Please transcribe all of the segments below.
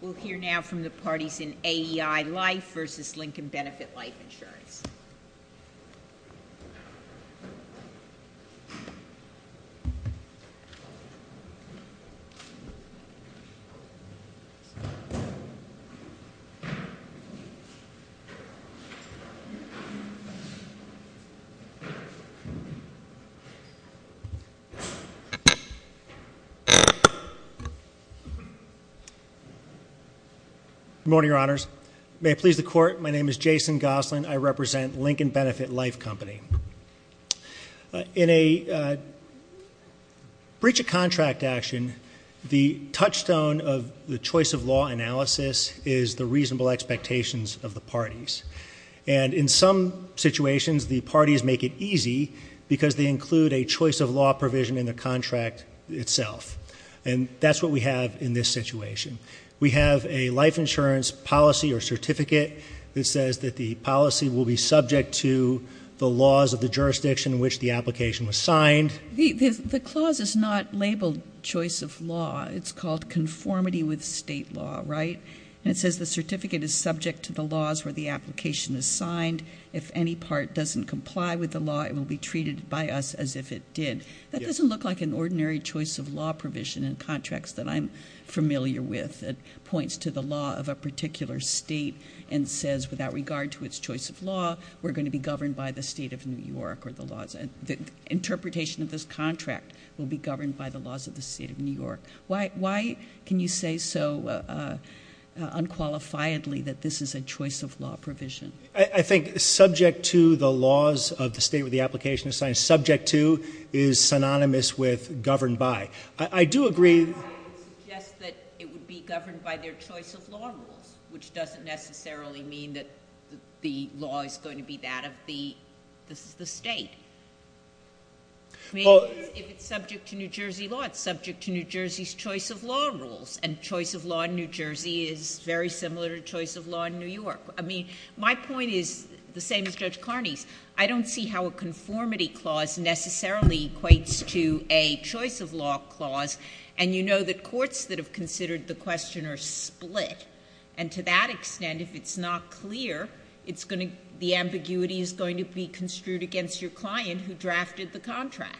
We'll hear now from the parties in AEI Life v. Lincoln Benefit Life Insurance. Good morning, Your Honors. May it please the Court, my name is Jason Gosselin. I represent Lincoln Benefit Life Company. In a breach of contract action, the touchstone of the choice of law analysis is the reasonable expectations of the parties. And in some situations, the parties make it easy because they include a choice of law provision in the contract itself. And that's what we have in this situation. We have a life insurance policy or certificate that says that the policy will be subject to the laws of the jurisdiction in which the application was signed. The clause is not labeled choice of law. It's called conformity with state law, right? And it says the certificate is subject to the laws where the application is signed. If any part doesn't comply with the law, it will be treated by us as if it did. That doesn't look like an ordinary choice of law provision in contracts that I'm familiar with. It points to the law of a particular state and says without regard to its choice of law, we're going to be governed by the state of New York. The interpretation of this contract will be governed by the laws of the state of New York. Why can you say so unqualifiedly that this is a choice of law provision? I think subject to the laws of the state where the application is signed. Subject to is synonymous with governed by. I do agree. I would suggest that it would be governed by their choice of law rules, which doesn't necessarily mean that the law is going to be that of the state. I mean, if it's subject to New Jersey law, it's subject to New Jersey's choice of law rules. And choice of law in New Jersey is very similar to choice of law in New York. I mean, my point is the same as Judge Carney's. I don't see how a conformity clause necessarily equates to a choice of law clause. And you know that courts that have considered the question are split. And to that extent, if it's not clear, the ambiguity is going to be construed against your client who drafted the contract.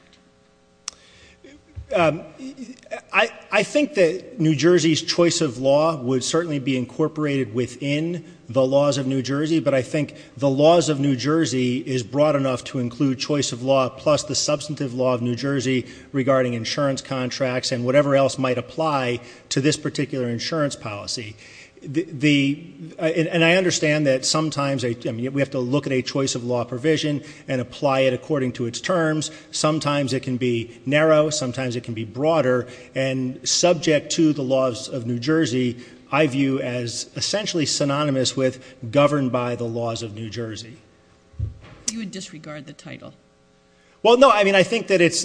I think that New Jersey's choice of law would certainly be incorporated within the laws of New Jersey. But I think the laws of New Jersey is broad enough to include choice of law plus the substantive law of New Jersey regarding insurance contracts and whatever else might apply to this particular insurance policy. And I understand that sometimes we have to look at a choice of law provision and apply it according to its terms. Sometimes it can be narrow. Sometimes it can be broader. And subject to the laws of New Jersey, I view as essentially synonymous with governed by the laws of New Jersey. You would disregard the title. Well, no. I mean, I think that it's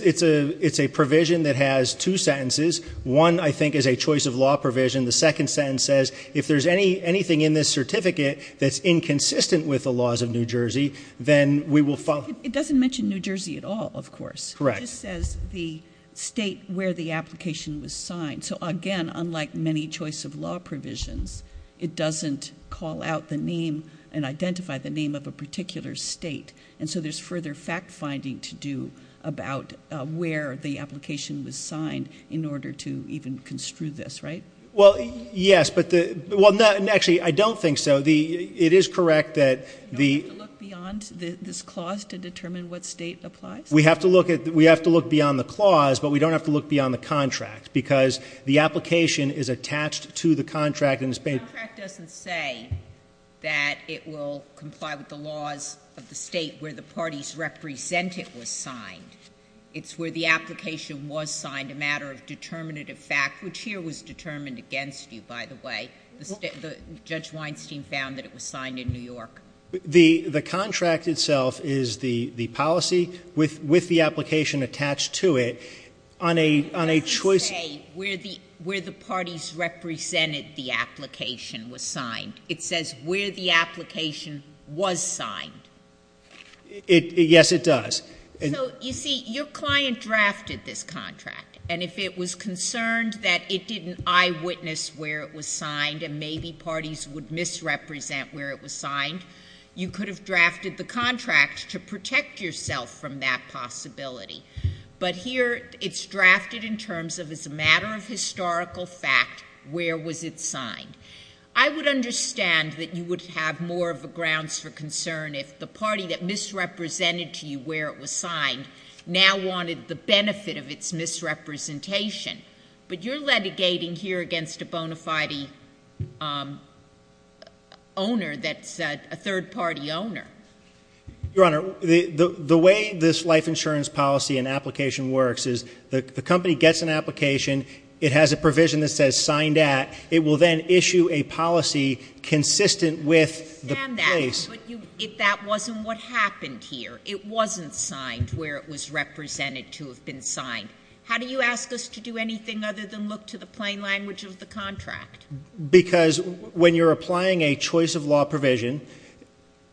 a provision that has two sentences. One, I think, is a choice of law provision. The second sentence says if there's anything in this certificate that's inconsistent with the laws of New Jersey, then we will follow. It doesn't mention New Jersey at all, of course. Correct. It just says the state where the application was signed. So, again, unlike many choice of law provisions, it doesn't call out the name and identify the name of a particular state. And so there's further fact-finding to do about where the application was signed in order to even construe this, right? Well, yes. Well, actually, I don't think so. You don't have to look beyond this clause to determine what state applies? We have to look beyond the clause, but we don't have to look beyond the contract because the application is attached to the contract. The contract doesn't say that it will comply with the laws of the state where the parties represent it was signed. It's where the application was signed, a matter of determinative fact, which here was determined against you, by the way. Judge Weinstein found that it was signed in New York. The contract itself is the policy with the application attached to it on a choice... It doesn't say where the parties represented the application was signed. It says where the application was signed. Yes, it does. So, you see, your client drafted this contract, and if it was concerned that it didn't eyewitness where it was signed and maybe parties would misrepresent where it was signed, you could have drafted the contract to protect yourself from that possibility. But here, it's drafted in terms of, as a matter of historical fact, where was it signed. I would understand that you would have more of a grounds for concern if the party that misrepresented to you where it was signed now wanted the benefit of its misrepresentation. But you're litigating here against a bona fide owner that's a third-party owner. Your Honor, the way this life insurance policy and application works is the company gets an application, it has a provision that says signed at, it will then issue a policy consistent with the place... I understand that, but that wasn't what happened here. It wasn't signed where it was represented to have been signed. How do you ask us to do anything other than look to the plain language of the contract? Because when you're applying a choice of law provision,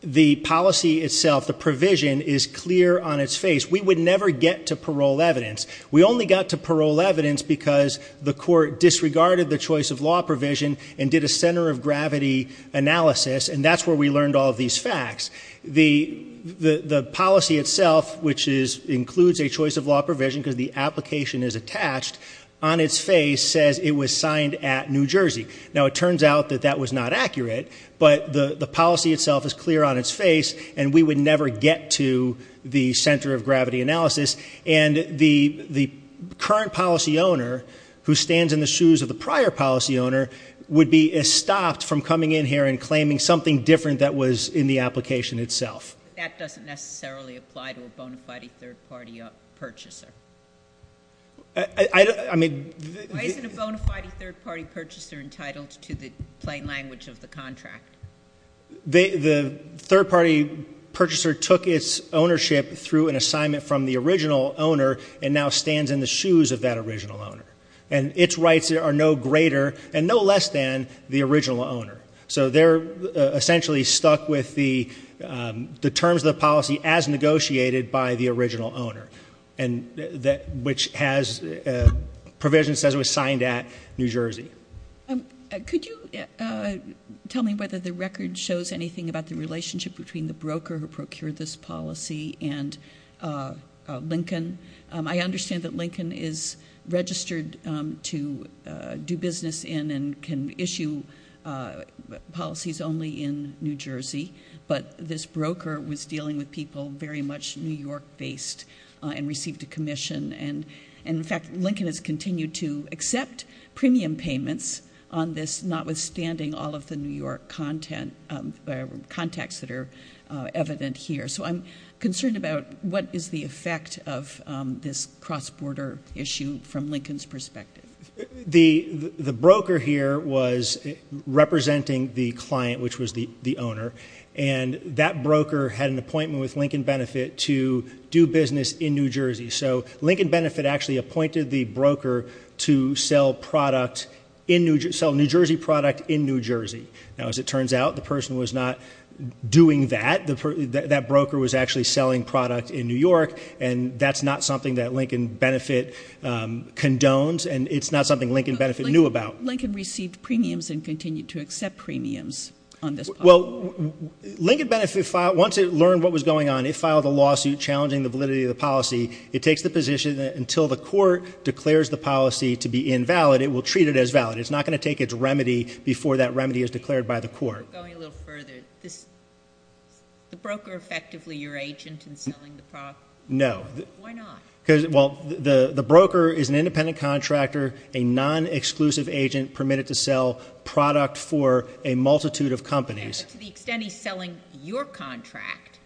the policy itself, the provision, is clear on its face. We would never get to parole evidence. We only got to parole evidence because the court disregarded the choice of law provision and did a center of gravity analysis, and that's where we learned all of these facts. The policy itself, which includes a choice of law provision because the application is attached, on its face says it was signed at New Jersey. Now, it turns out that that was not accurate, but the policy itself is clear on its face, and we would never get to the center of gravity analysis. And the current policy owner, who stands in the shoes of the prior policy owner, would be stopped from coming in here and claiming something different that was in the application itself. That doesn't necessarily apply to a bona fide third-party purchaser. I mean... Why isn't a bona fide third-party purchaser entitled to the plain language of the contract? The third-party purchaser took its ownership through an assignment from the original owner and now stands in the shoes of that original owner, and its rights are no greater and no less than the original owner. So they're essentially stuck with the terms of the policy as negotiated by the original owner, which has provision that says it was signed at New Jersey. Could you tell me whether the record shows anything about the relationship between the broker who procured this policy and Lincoln? I understand that Lincoln is registered to do business in and can issue policies only in New Jersey, but this broker was dealing with people very much New York-based and received a commission. And, in fact, Lincoln has continued to accept premium payments on this, notwithstanding all of the New York contacts that are evident here. So I'm concerned about what is the effect of this cross-border issue from Lincoln's perspective. The broker here was representing the client, which was the owner, and that broker had an appointment with Lincoln Benefit to do business in New Jersey. So Lincoln Benefit actually appointed the broker to sell New Jersey product in New Jersey. Now, as it turns out, the person was not doing that. That broker was actually selling product in New York, and that's not something that Lincoln Benefit condones, and it's not something Lincoln Benefit knew about. Lincoln received premiums and continued to accept premiums on this policy. Well, Lincoln Benefit, once it learned what was going on, it filed a lawsuit challenging the validity of the policy. It takes the position that until the court declares the policy to be invalid, it will treat it as valid. It's not going to take its remedy before that remedy is declared by the court. Going a little further, is the broker effectively your agent in selling the product? No. Why not? Because, well, the broker is an independent contractor, a non-exclusive agent permitted to sell product for a multitude of companies. To the extent he's selling your contract,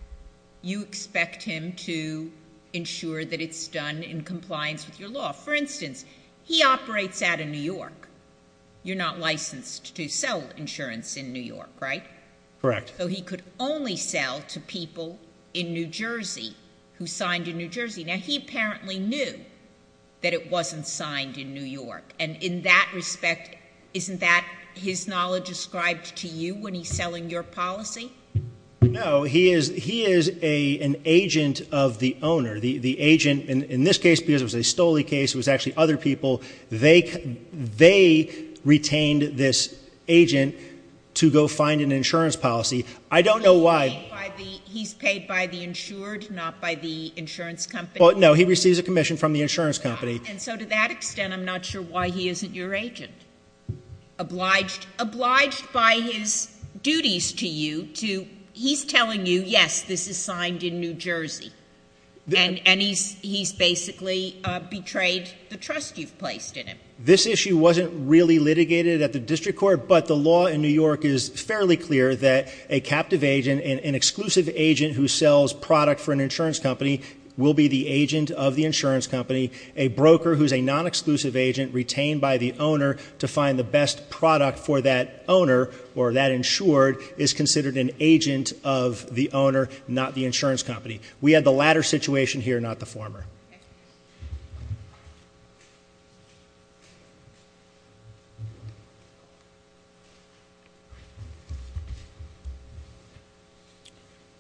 you expect him to ensure that it's done in compliance with your law. For instance, he operates out of New York. You're not licensed to sell insurance in New York, right? Correct. So he could only sell to people in New Jersey who signed in New Jersey. Now, he apparently knew that it wasn't signed in New York, and in that respect, isn't that his knowledge ascribed to you when he's selling your policy? No. He is an agent of the owner. The agent, in this case, because it was a Stolle case, it was actually other people. They retained this agent to go find an insurance policy. I don't know why. He's paid by the insured, not by the insurance company? No. He receives a commission from the insurance company. And so to that extent, I'm not sure why he isn't your agent. Obliged by his duties to you, he's telling you, yes, this is signed in New Jersey, and he's basically betrayed the trust you've placed in him. This issue wasn't really litigated at the district court, but the law in New York is fairly clear that a captive agent, an exclusive agent who sells product for an insurance company, will be the agent of the insurance company. A broker who's a non-exclusive agent retained by the owner to find the best product for that owner or that insured is considered an agent of the owner, not the insurance company. We had the latter situation here, not the former. Thank you.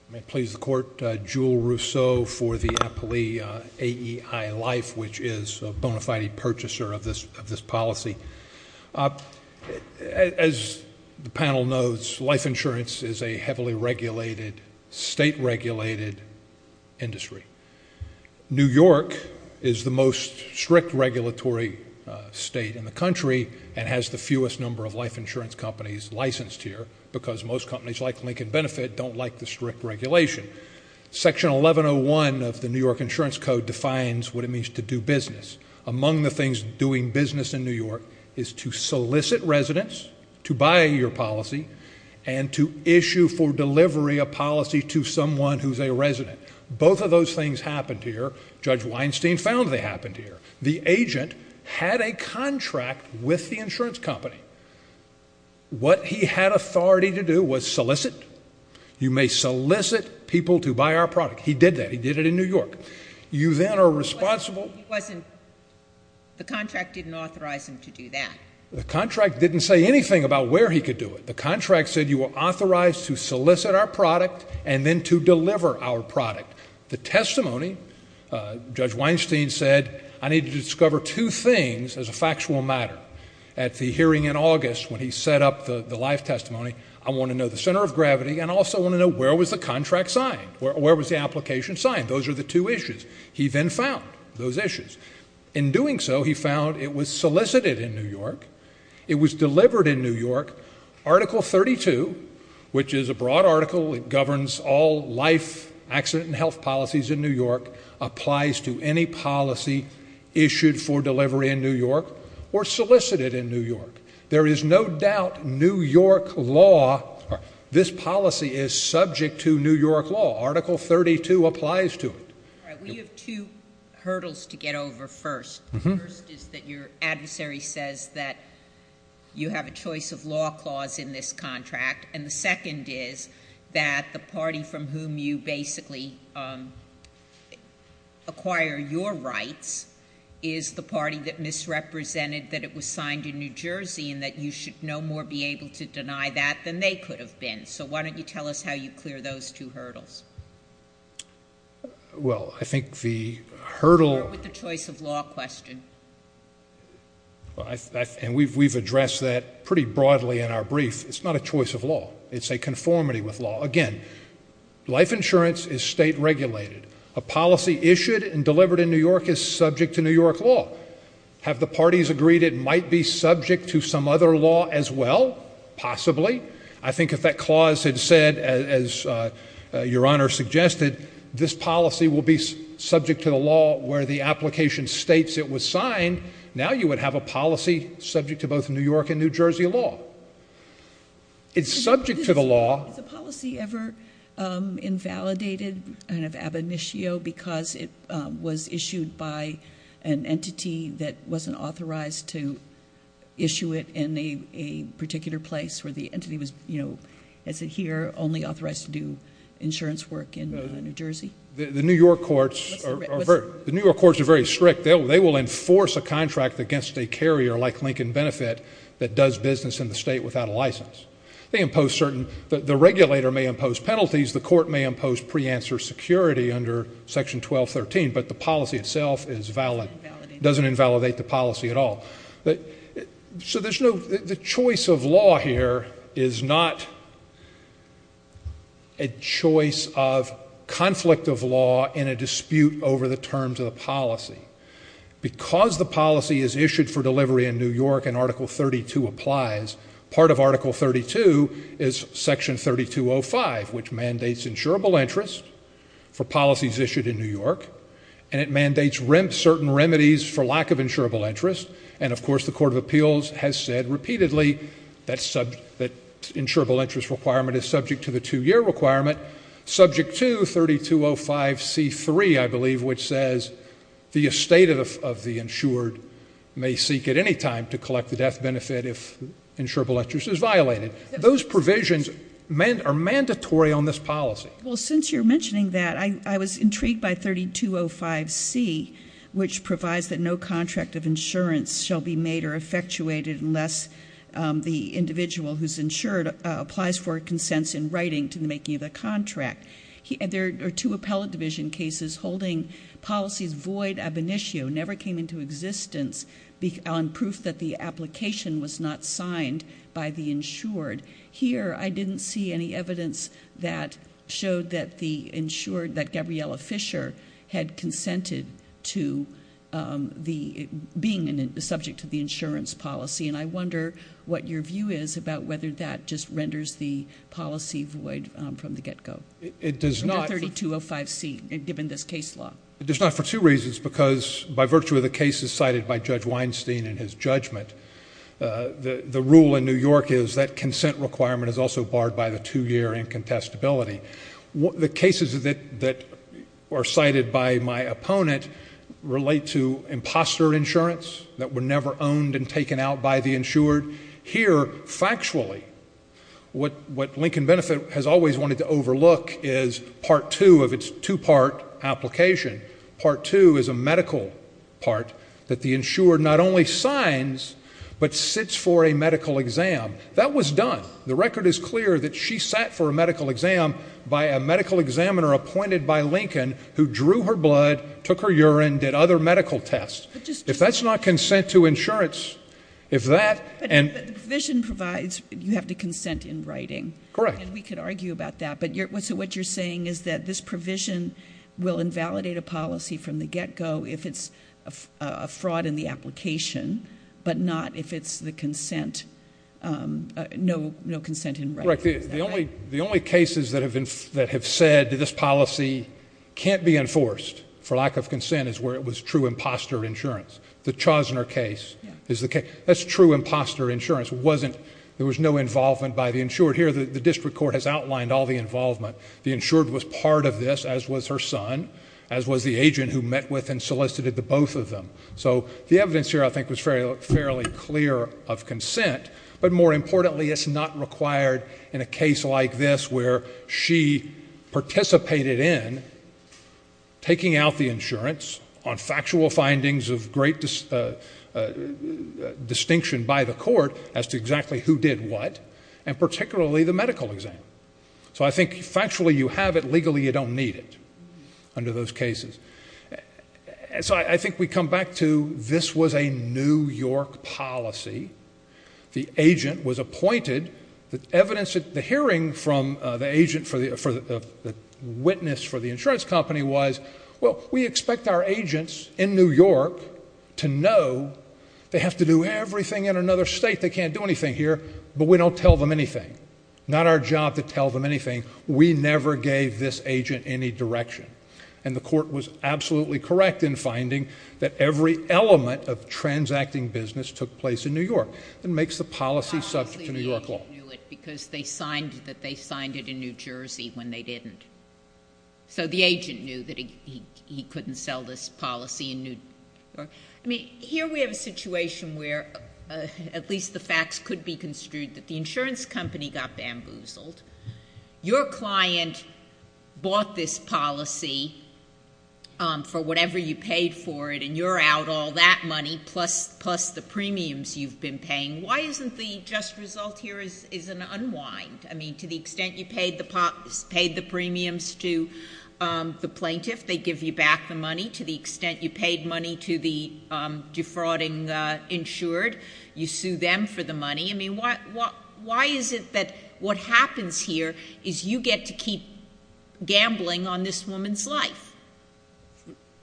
I'm going to please the Court. Jewel Rousseau for the appellee AEI Life, which is a bona fide purchaser of this policy. As the panel knows, life insurance is a heavily regulated, state-regulated industry. New York is the most strict regulatory state in the country and has the fewest number of life insurance companies licensed here because most companies like Lincoln Benefit don't like the strict regulation. Section 1101 of the New York Insurance Code defines what it means to do business. Among the things doing business in New York is to solicit residents to buy your policy and to issue for delivery a policy to someone who's a resident. Both of those things happened here. Judge Weinstein found they happened here. The agent had a contract with the insurance company. What he had authority to do was solicit. You may solicit people to buy our product. He did that. He did it in New York. You then are responsible. He wasn't. The contract didn't authorize him to do that. The contract didn't say anything about where he could do it. The contract said you are authorized to solicit our product and then to deliver our product. The testimony, Judge Weinstein said, I need to discover two things as a factual matter. At the hearing in August when he set up the life testimony, I want to know the center of gravity and I also want to know where was the contract signed, where was the application signed. Those are the two issues. He then found those issues. In doing so, he found it was solicited in New York. It was delivered in New York. Article 32, which is a broad article, it governs all life accident and health policies in New York, applies to any policy issued for delivery in New York or solicited in New York. There is no doubt New York law, this policy is subject to New York law. Article 32 applies to it. We have two hurdles to get over first. First is that your adversary says that you have a choice of law clause in this contract and the second is that the party from whom you basically acquire your rights is the party that misrepresented that it was signed in New Jersey and that you should no more be able to deny that than they could have been. So why don't you tell us how you clear those two hurdles? Well, I think the hurdle... Or with the choice of law question. And we've addressed that pretty broadly in our brief. It's not a choice of law. It's a conformity with law. Again, life insurance is state regulated. A policy issued and delivered in New York is subject to New York law. Have the parties agreed it might be subject to some other law as well? Possibly. I think if that clause had said, as Your Honor suggested, this policy will be subject to the law where the application states it was signed, now you would have a policy subject to both New York and New Jersey law. It's subject to the law. Has a policy ever invalidated kind of ab initio because it was issued by an entity that wasn't authorized to issue it in a particular place where the entity was, as it here, only authorized to do insurance work in New Jersey? The New York courts are very strict. They will enforce a contract against a carrier like Lincoln Benefit that does business in the state without a license. The regulator may impose penalties. The court may impose pre-answer security under Section 1213, but the policy itself is valid. It doesn't invalidate the policy at all. So the choice of law here is not a choice of conflict of law in a dispute over the terms of the policy. Because the policy is issued for delivery in New York and Article 32 applies, part of Article 32 is Section 3205, which mandates insurable interest for policies issued in New York, and it mandates certain remedies for lack of insurable interest. And, of course, the Court of Appeals has said repeatedly that insurable interest requirement is subject to the two-year requirement. Subject to 3205C3, I believe, which says the estate of the insured may seek at any time to collect the death benefit if insurable interest is violated. Those provisions are mandatory on this policy. Well, since you're mentioning that, I was intrigued by 3205C, which provides that no contract of insurance shall be made or effectuated unless the individual who's insured applies for a consent in writing to the making of the contract. There are two appellate division cases holding policies void ab initio, never came into existence, on proof that the application was not signed by the insured. Here, I didn't see any evidence that showed that the insured, that Gabriella Fisher had consented to being subject to the insurance policy, and I wonder what your view is about whether that just renders the policy void from the get-go. It does not. Under 3205C, given this case law. It does not for two reasons, because by virtue of the cases cited by Judge Weinstein in his judgment, the rule in New York is that consent requirement is also barred by the two-year incontestability. The cases that are cited by my opponent relate to imposter insurance that were never owned and taken out by the insured. Here, factually, what Lincoln Benefit has always wanted to overlook is Part 2 of its two-part application. Part 2 is a medical part that the insured not only signs but sits for a medical exam. That was done. The record is clear that she sat for a medical exam by a medical examiner appointed by Lincoln who drew her blood, took her urine, did other medical tests. If that's not consent to insurance, if that... But the provision provides you have to consent in writing. Correct. And we could argue about that, but what you're saying is that this provision will invalidate a policy from the get-go if it's a fraud in the application but not if it's no consent in writing. Correct. The only cases that have said this policy can't be enforced for lack of consent is where it was true imposter insurance. The Chosner case is the case. That's true imposter insurance. There was no involvement by the insured. Here, the district court has outlined all the involvement. The insured was part of this, as was her son, as was the agent who met with and solicited the both of them. So the evidence here, I think, was fairly clear of consent, but more importantly, it's not required in a case like this where she participated in taking out the insurance on factual findings of great distinction by the court as to exactly who did what, and particularly the medical exam. So I think, factually, you have it. Under those cases. So I think we come back to this was a New York policy. The agent was appointed. The evidence, the hearing from the witness for the insurance company was, well, we expect our agents in New York to know they have to do everything in another state, they can't do anything here, but we don't tell them anything. Not our job to tell them anything. We never gave this agent any direction. And the court was absolutely correct in finding that every element of transacting business took place in New York. It makes the policy subject to New York law. Probably the agent knew it because they signed it in New Jersey when they didn't. So the agent knew that he couldn't sell this policy in New York. I mean, here we have a situation where at least the facts could be construed that the insurance company got bamboozled. Your client bought this policy for whatever you paid for it and you're out all that money plus the premiums you've been paying. Why isn't the just result here is an unwind? I mean, to the extent you paid the premiums to the plaintiff, they give you back the money. To the extent you paid money to the defrauding insured, you sue them for the money. I mean, why is it that what happens here is you get to keep gambling on this woman's life?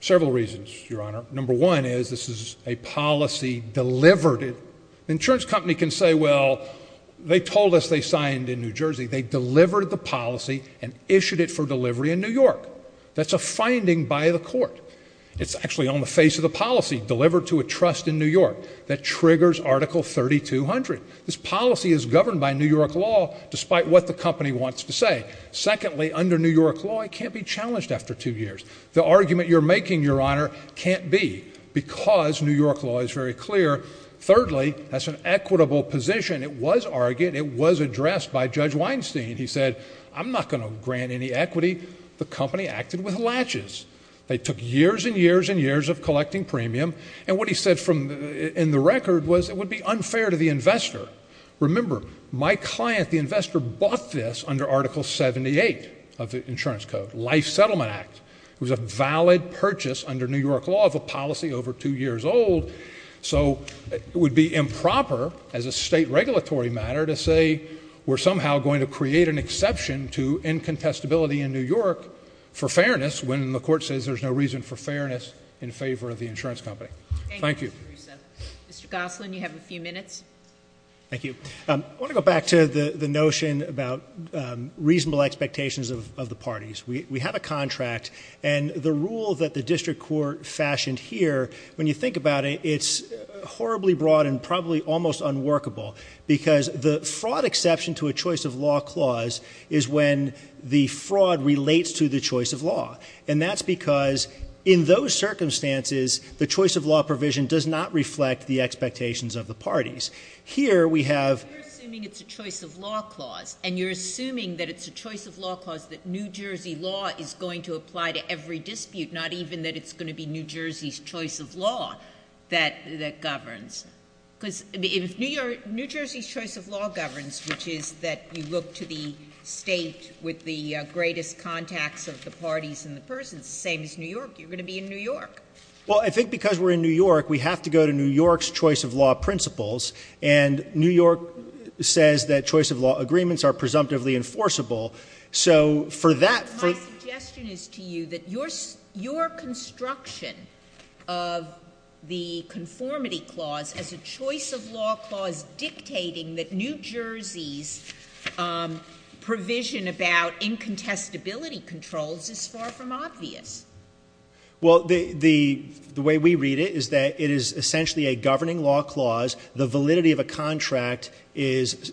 Several reasons, Your Honor. Number one is this is a policy delivered. The insurance company can say, well, they told us they signed in New Jersey. They delivered the policy and issued it for delivery in New York. That's a finding by the court. It's actually on the face of the policy delivered to a trust in New York that triggers Article 3200. This policy is governed by New York law despite what the company wants to say. Secondly, under New York law, it can't be challenged after two years. The argument you're making, Your Honor, can't be because New York law is very clear. Thirdly, that's an equitable position. It was argued, it was addressed by Judge Weinstein. He said, I'm not going to grant any equity. The company acted with latches. They took years and years and years of collecting premium, and what he said in the record was it would be unfair to the investor. Remember, my client, the investor, bought this under Article 78 of the Insurance Code, Life Settlement Act. It was a valid purchase under New York law of a policy over two years old. So it would be improper as a state regulatory matter to say we're somehow going to create an exception to incontestability in New York for fairness when the court says there's no reason for fairness in favor of the insurance company. Thank you. Mr. Goslin, you have a few minutes. Thank you. I want to go back to the notion about reasonable expectations of the parties. We have a contract, and the rule that the district court fashioned here, when you think about it, it's horribly broad and probably almost unworkable because the fraud exception to a choice-of-law clause is when the fraud relates to the choice of law, and that's because in those circumstances, the choice-of-law provision does not reflect the expectations of the parties. Here we have... You're assuming it's a choice-of-law clause, and you're assuming that it's a choice-of-law clause that New Jersey law is going to apply to every dispute, not even that it's going to be New Jersey's choice of law that governs. Because if New Jersey's choice of law governs, which is that you look to the state with the greatest contacts of the parties and the persons, the same as New York, you're going to be in New York. Well, I think because we're in New York, we have to go to New York's choice-of-law principles, and New York says that choice-of-law agreements are presumptively enforceable, so for that... My suggestion is to you that your construction of the conformity clause as a choice-of-law clause dictating that New Jersey's provision about incontestability controls is far from obvious. Well, the way we read it is that it is essentially a governing law clause. The validity of a contract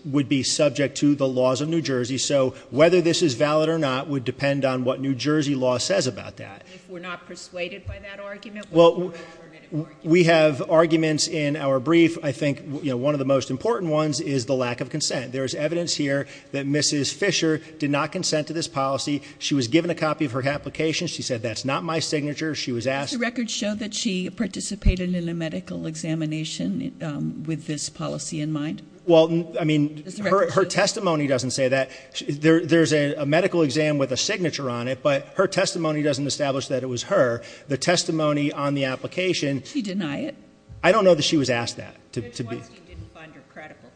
would be subject to the laws of New Jersey, so whether this is valid or not would depend on what New Jersey law says about that. If we're not persuaded by that argument, what is the affirmative argument? We have arguments in our brief. I think one of the most important ones is the lack of consent. There is evidence here that Mrs. Fisher did not consent to this policy. She was given a copy of her application. She said, that's not my signature. She was asked... Does the record show that she participated in a medical examination with this policy in mind? Well, I mean, her testimony doesn't say that. There's a medical exam with a signature on it, but her testimony doesn't establish that it was her. The testimony on the application... Did she deny it? I don't know that she was asked that. Judge Weinstein didn't find her credible.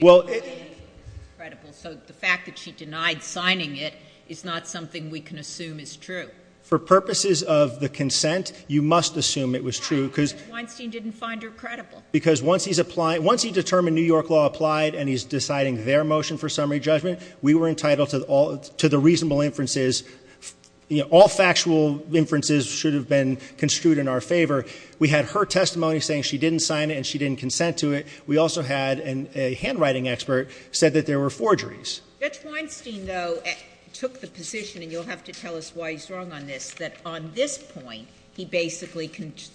Well... So the fact that she denied signing it is not something we can assume is true. For purposes of the consent, you must assume it was true because... Why? Judge Weinstein didn't find her credible. Because once he determined New York law applied and he's deciding their motion for summary judgment, we were entitled to the reasonable inferences. All factual inferences should have been construed in our favor. We had her testimony saying she didn't sign it and she didn't consent to it. We also had a handwriting expert said that there were forgeries. Judge Weinstein, though, took the position, and you'll have to tell us why he's wrong on this, that on this point he basically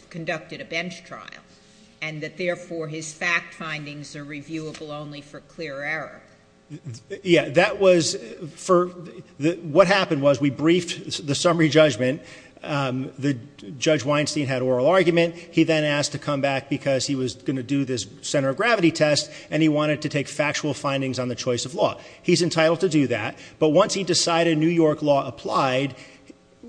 conducted a bench trial, and that therefore his fact findings are reviewable only for clear error. Yeah, that was for... What happened was we briefed the summary judgment. Judge Weinstein had oral argument. He then asked to come back because he was going to do this center of gravity test, and he wanted to take factual findings on the choice of law. He's entitled to do that. But once he decided New York law applied,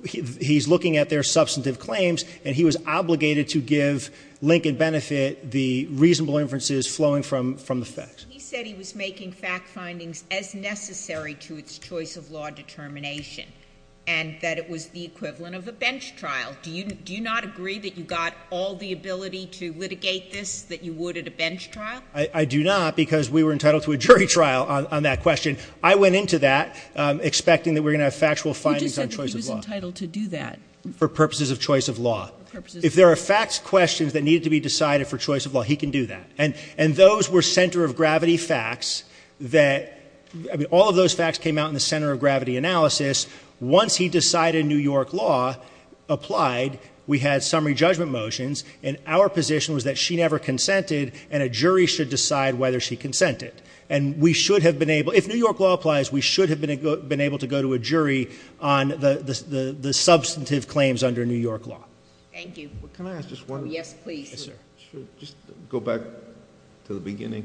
he's looking at their substantive claims, and he was obligated to give Lincoln Benefit the reasonable inferences flowing from the facts. He said he was making fact findings as necessary to its choice of law determination and that it was the equivalent of a bench trial. Do you not agree that you got all the ability to litigate this that you would at a bench trial? I do not because we were entitled to a jury trial on that question. I went into that expecting that we were going to have factual findings on choice of law. You just said that he was entitled to do that. For purposes of choice of law. If there are facts questions that needed to be decided for choice of law, he can do that. And those were center of gravity facts that, I mean, all of those facts came out in the center of gravity analysis. Once he decided New York law applied, we had summary judgment motions, and our position was that she never consented and a jury should decide whether she consented. And we should have been able, if New York law applies, we should have been able to go to a jury on the substantive claims under New York law. Thank you. Can I ask just one? Yes, please. Just go back to the beginning.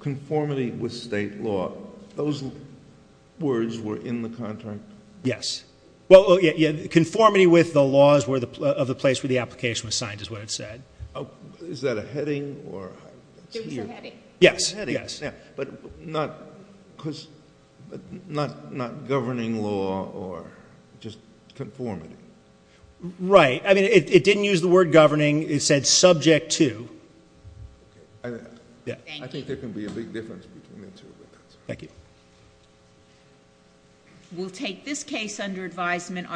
Conformity with state law, those words were in the contract? Yes. Well, conformity with the laws of the place where the application was signed is what it said. Is that a heading? It's a heading. Yes, yes. But not governing law or just conformity? Right. I mean, it didn't use the word governing. It said subject to. Okay. Thank you. I think there can be a big difference between the two. Thank you. We'll take this case under advisement.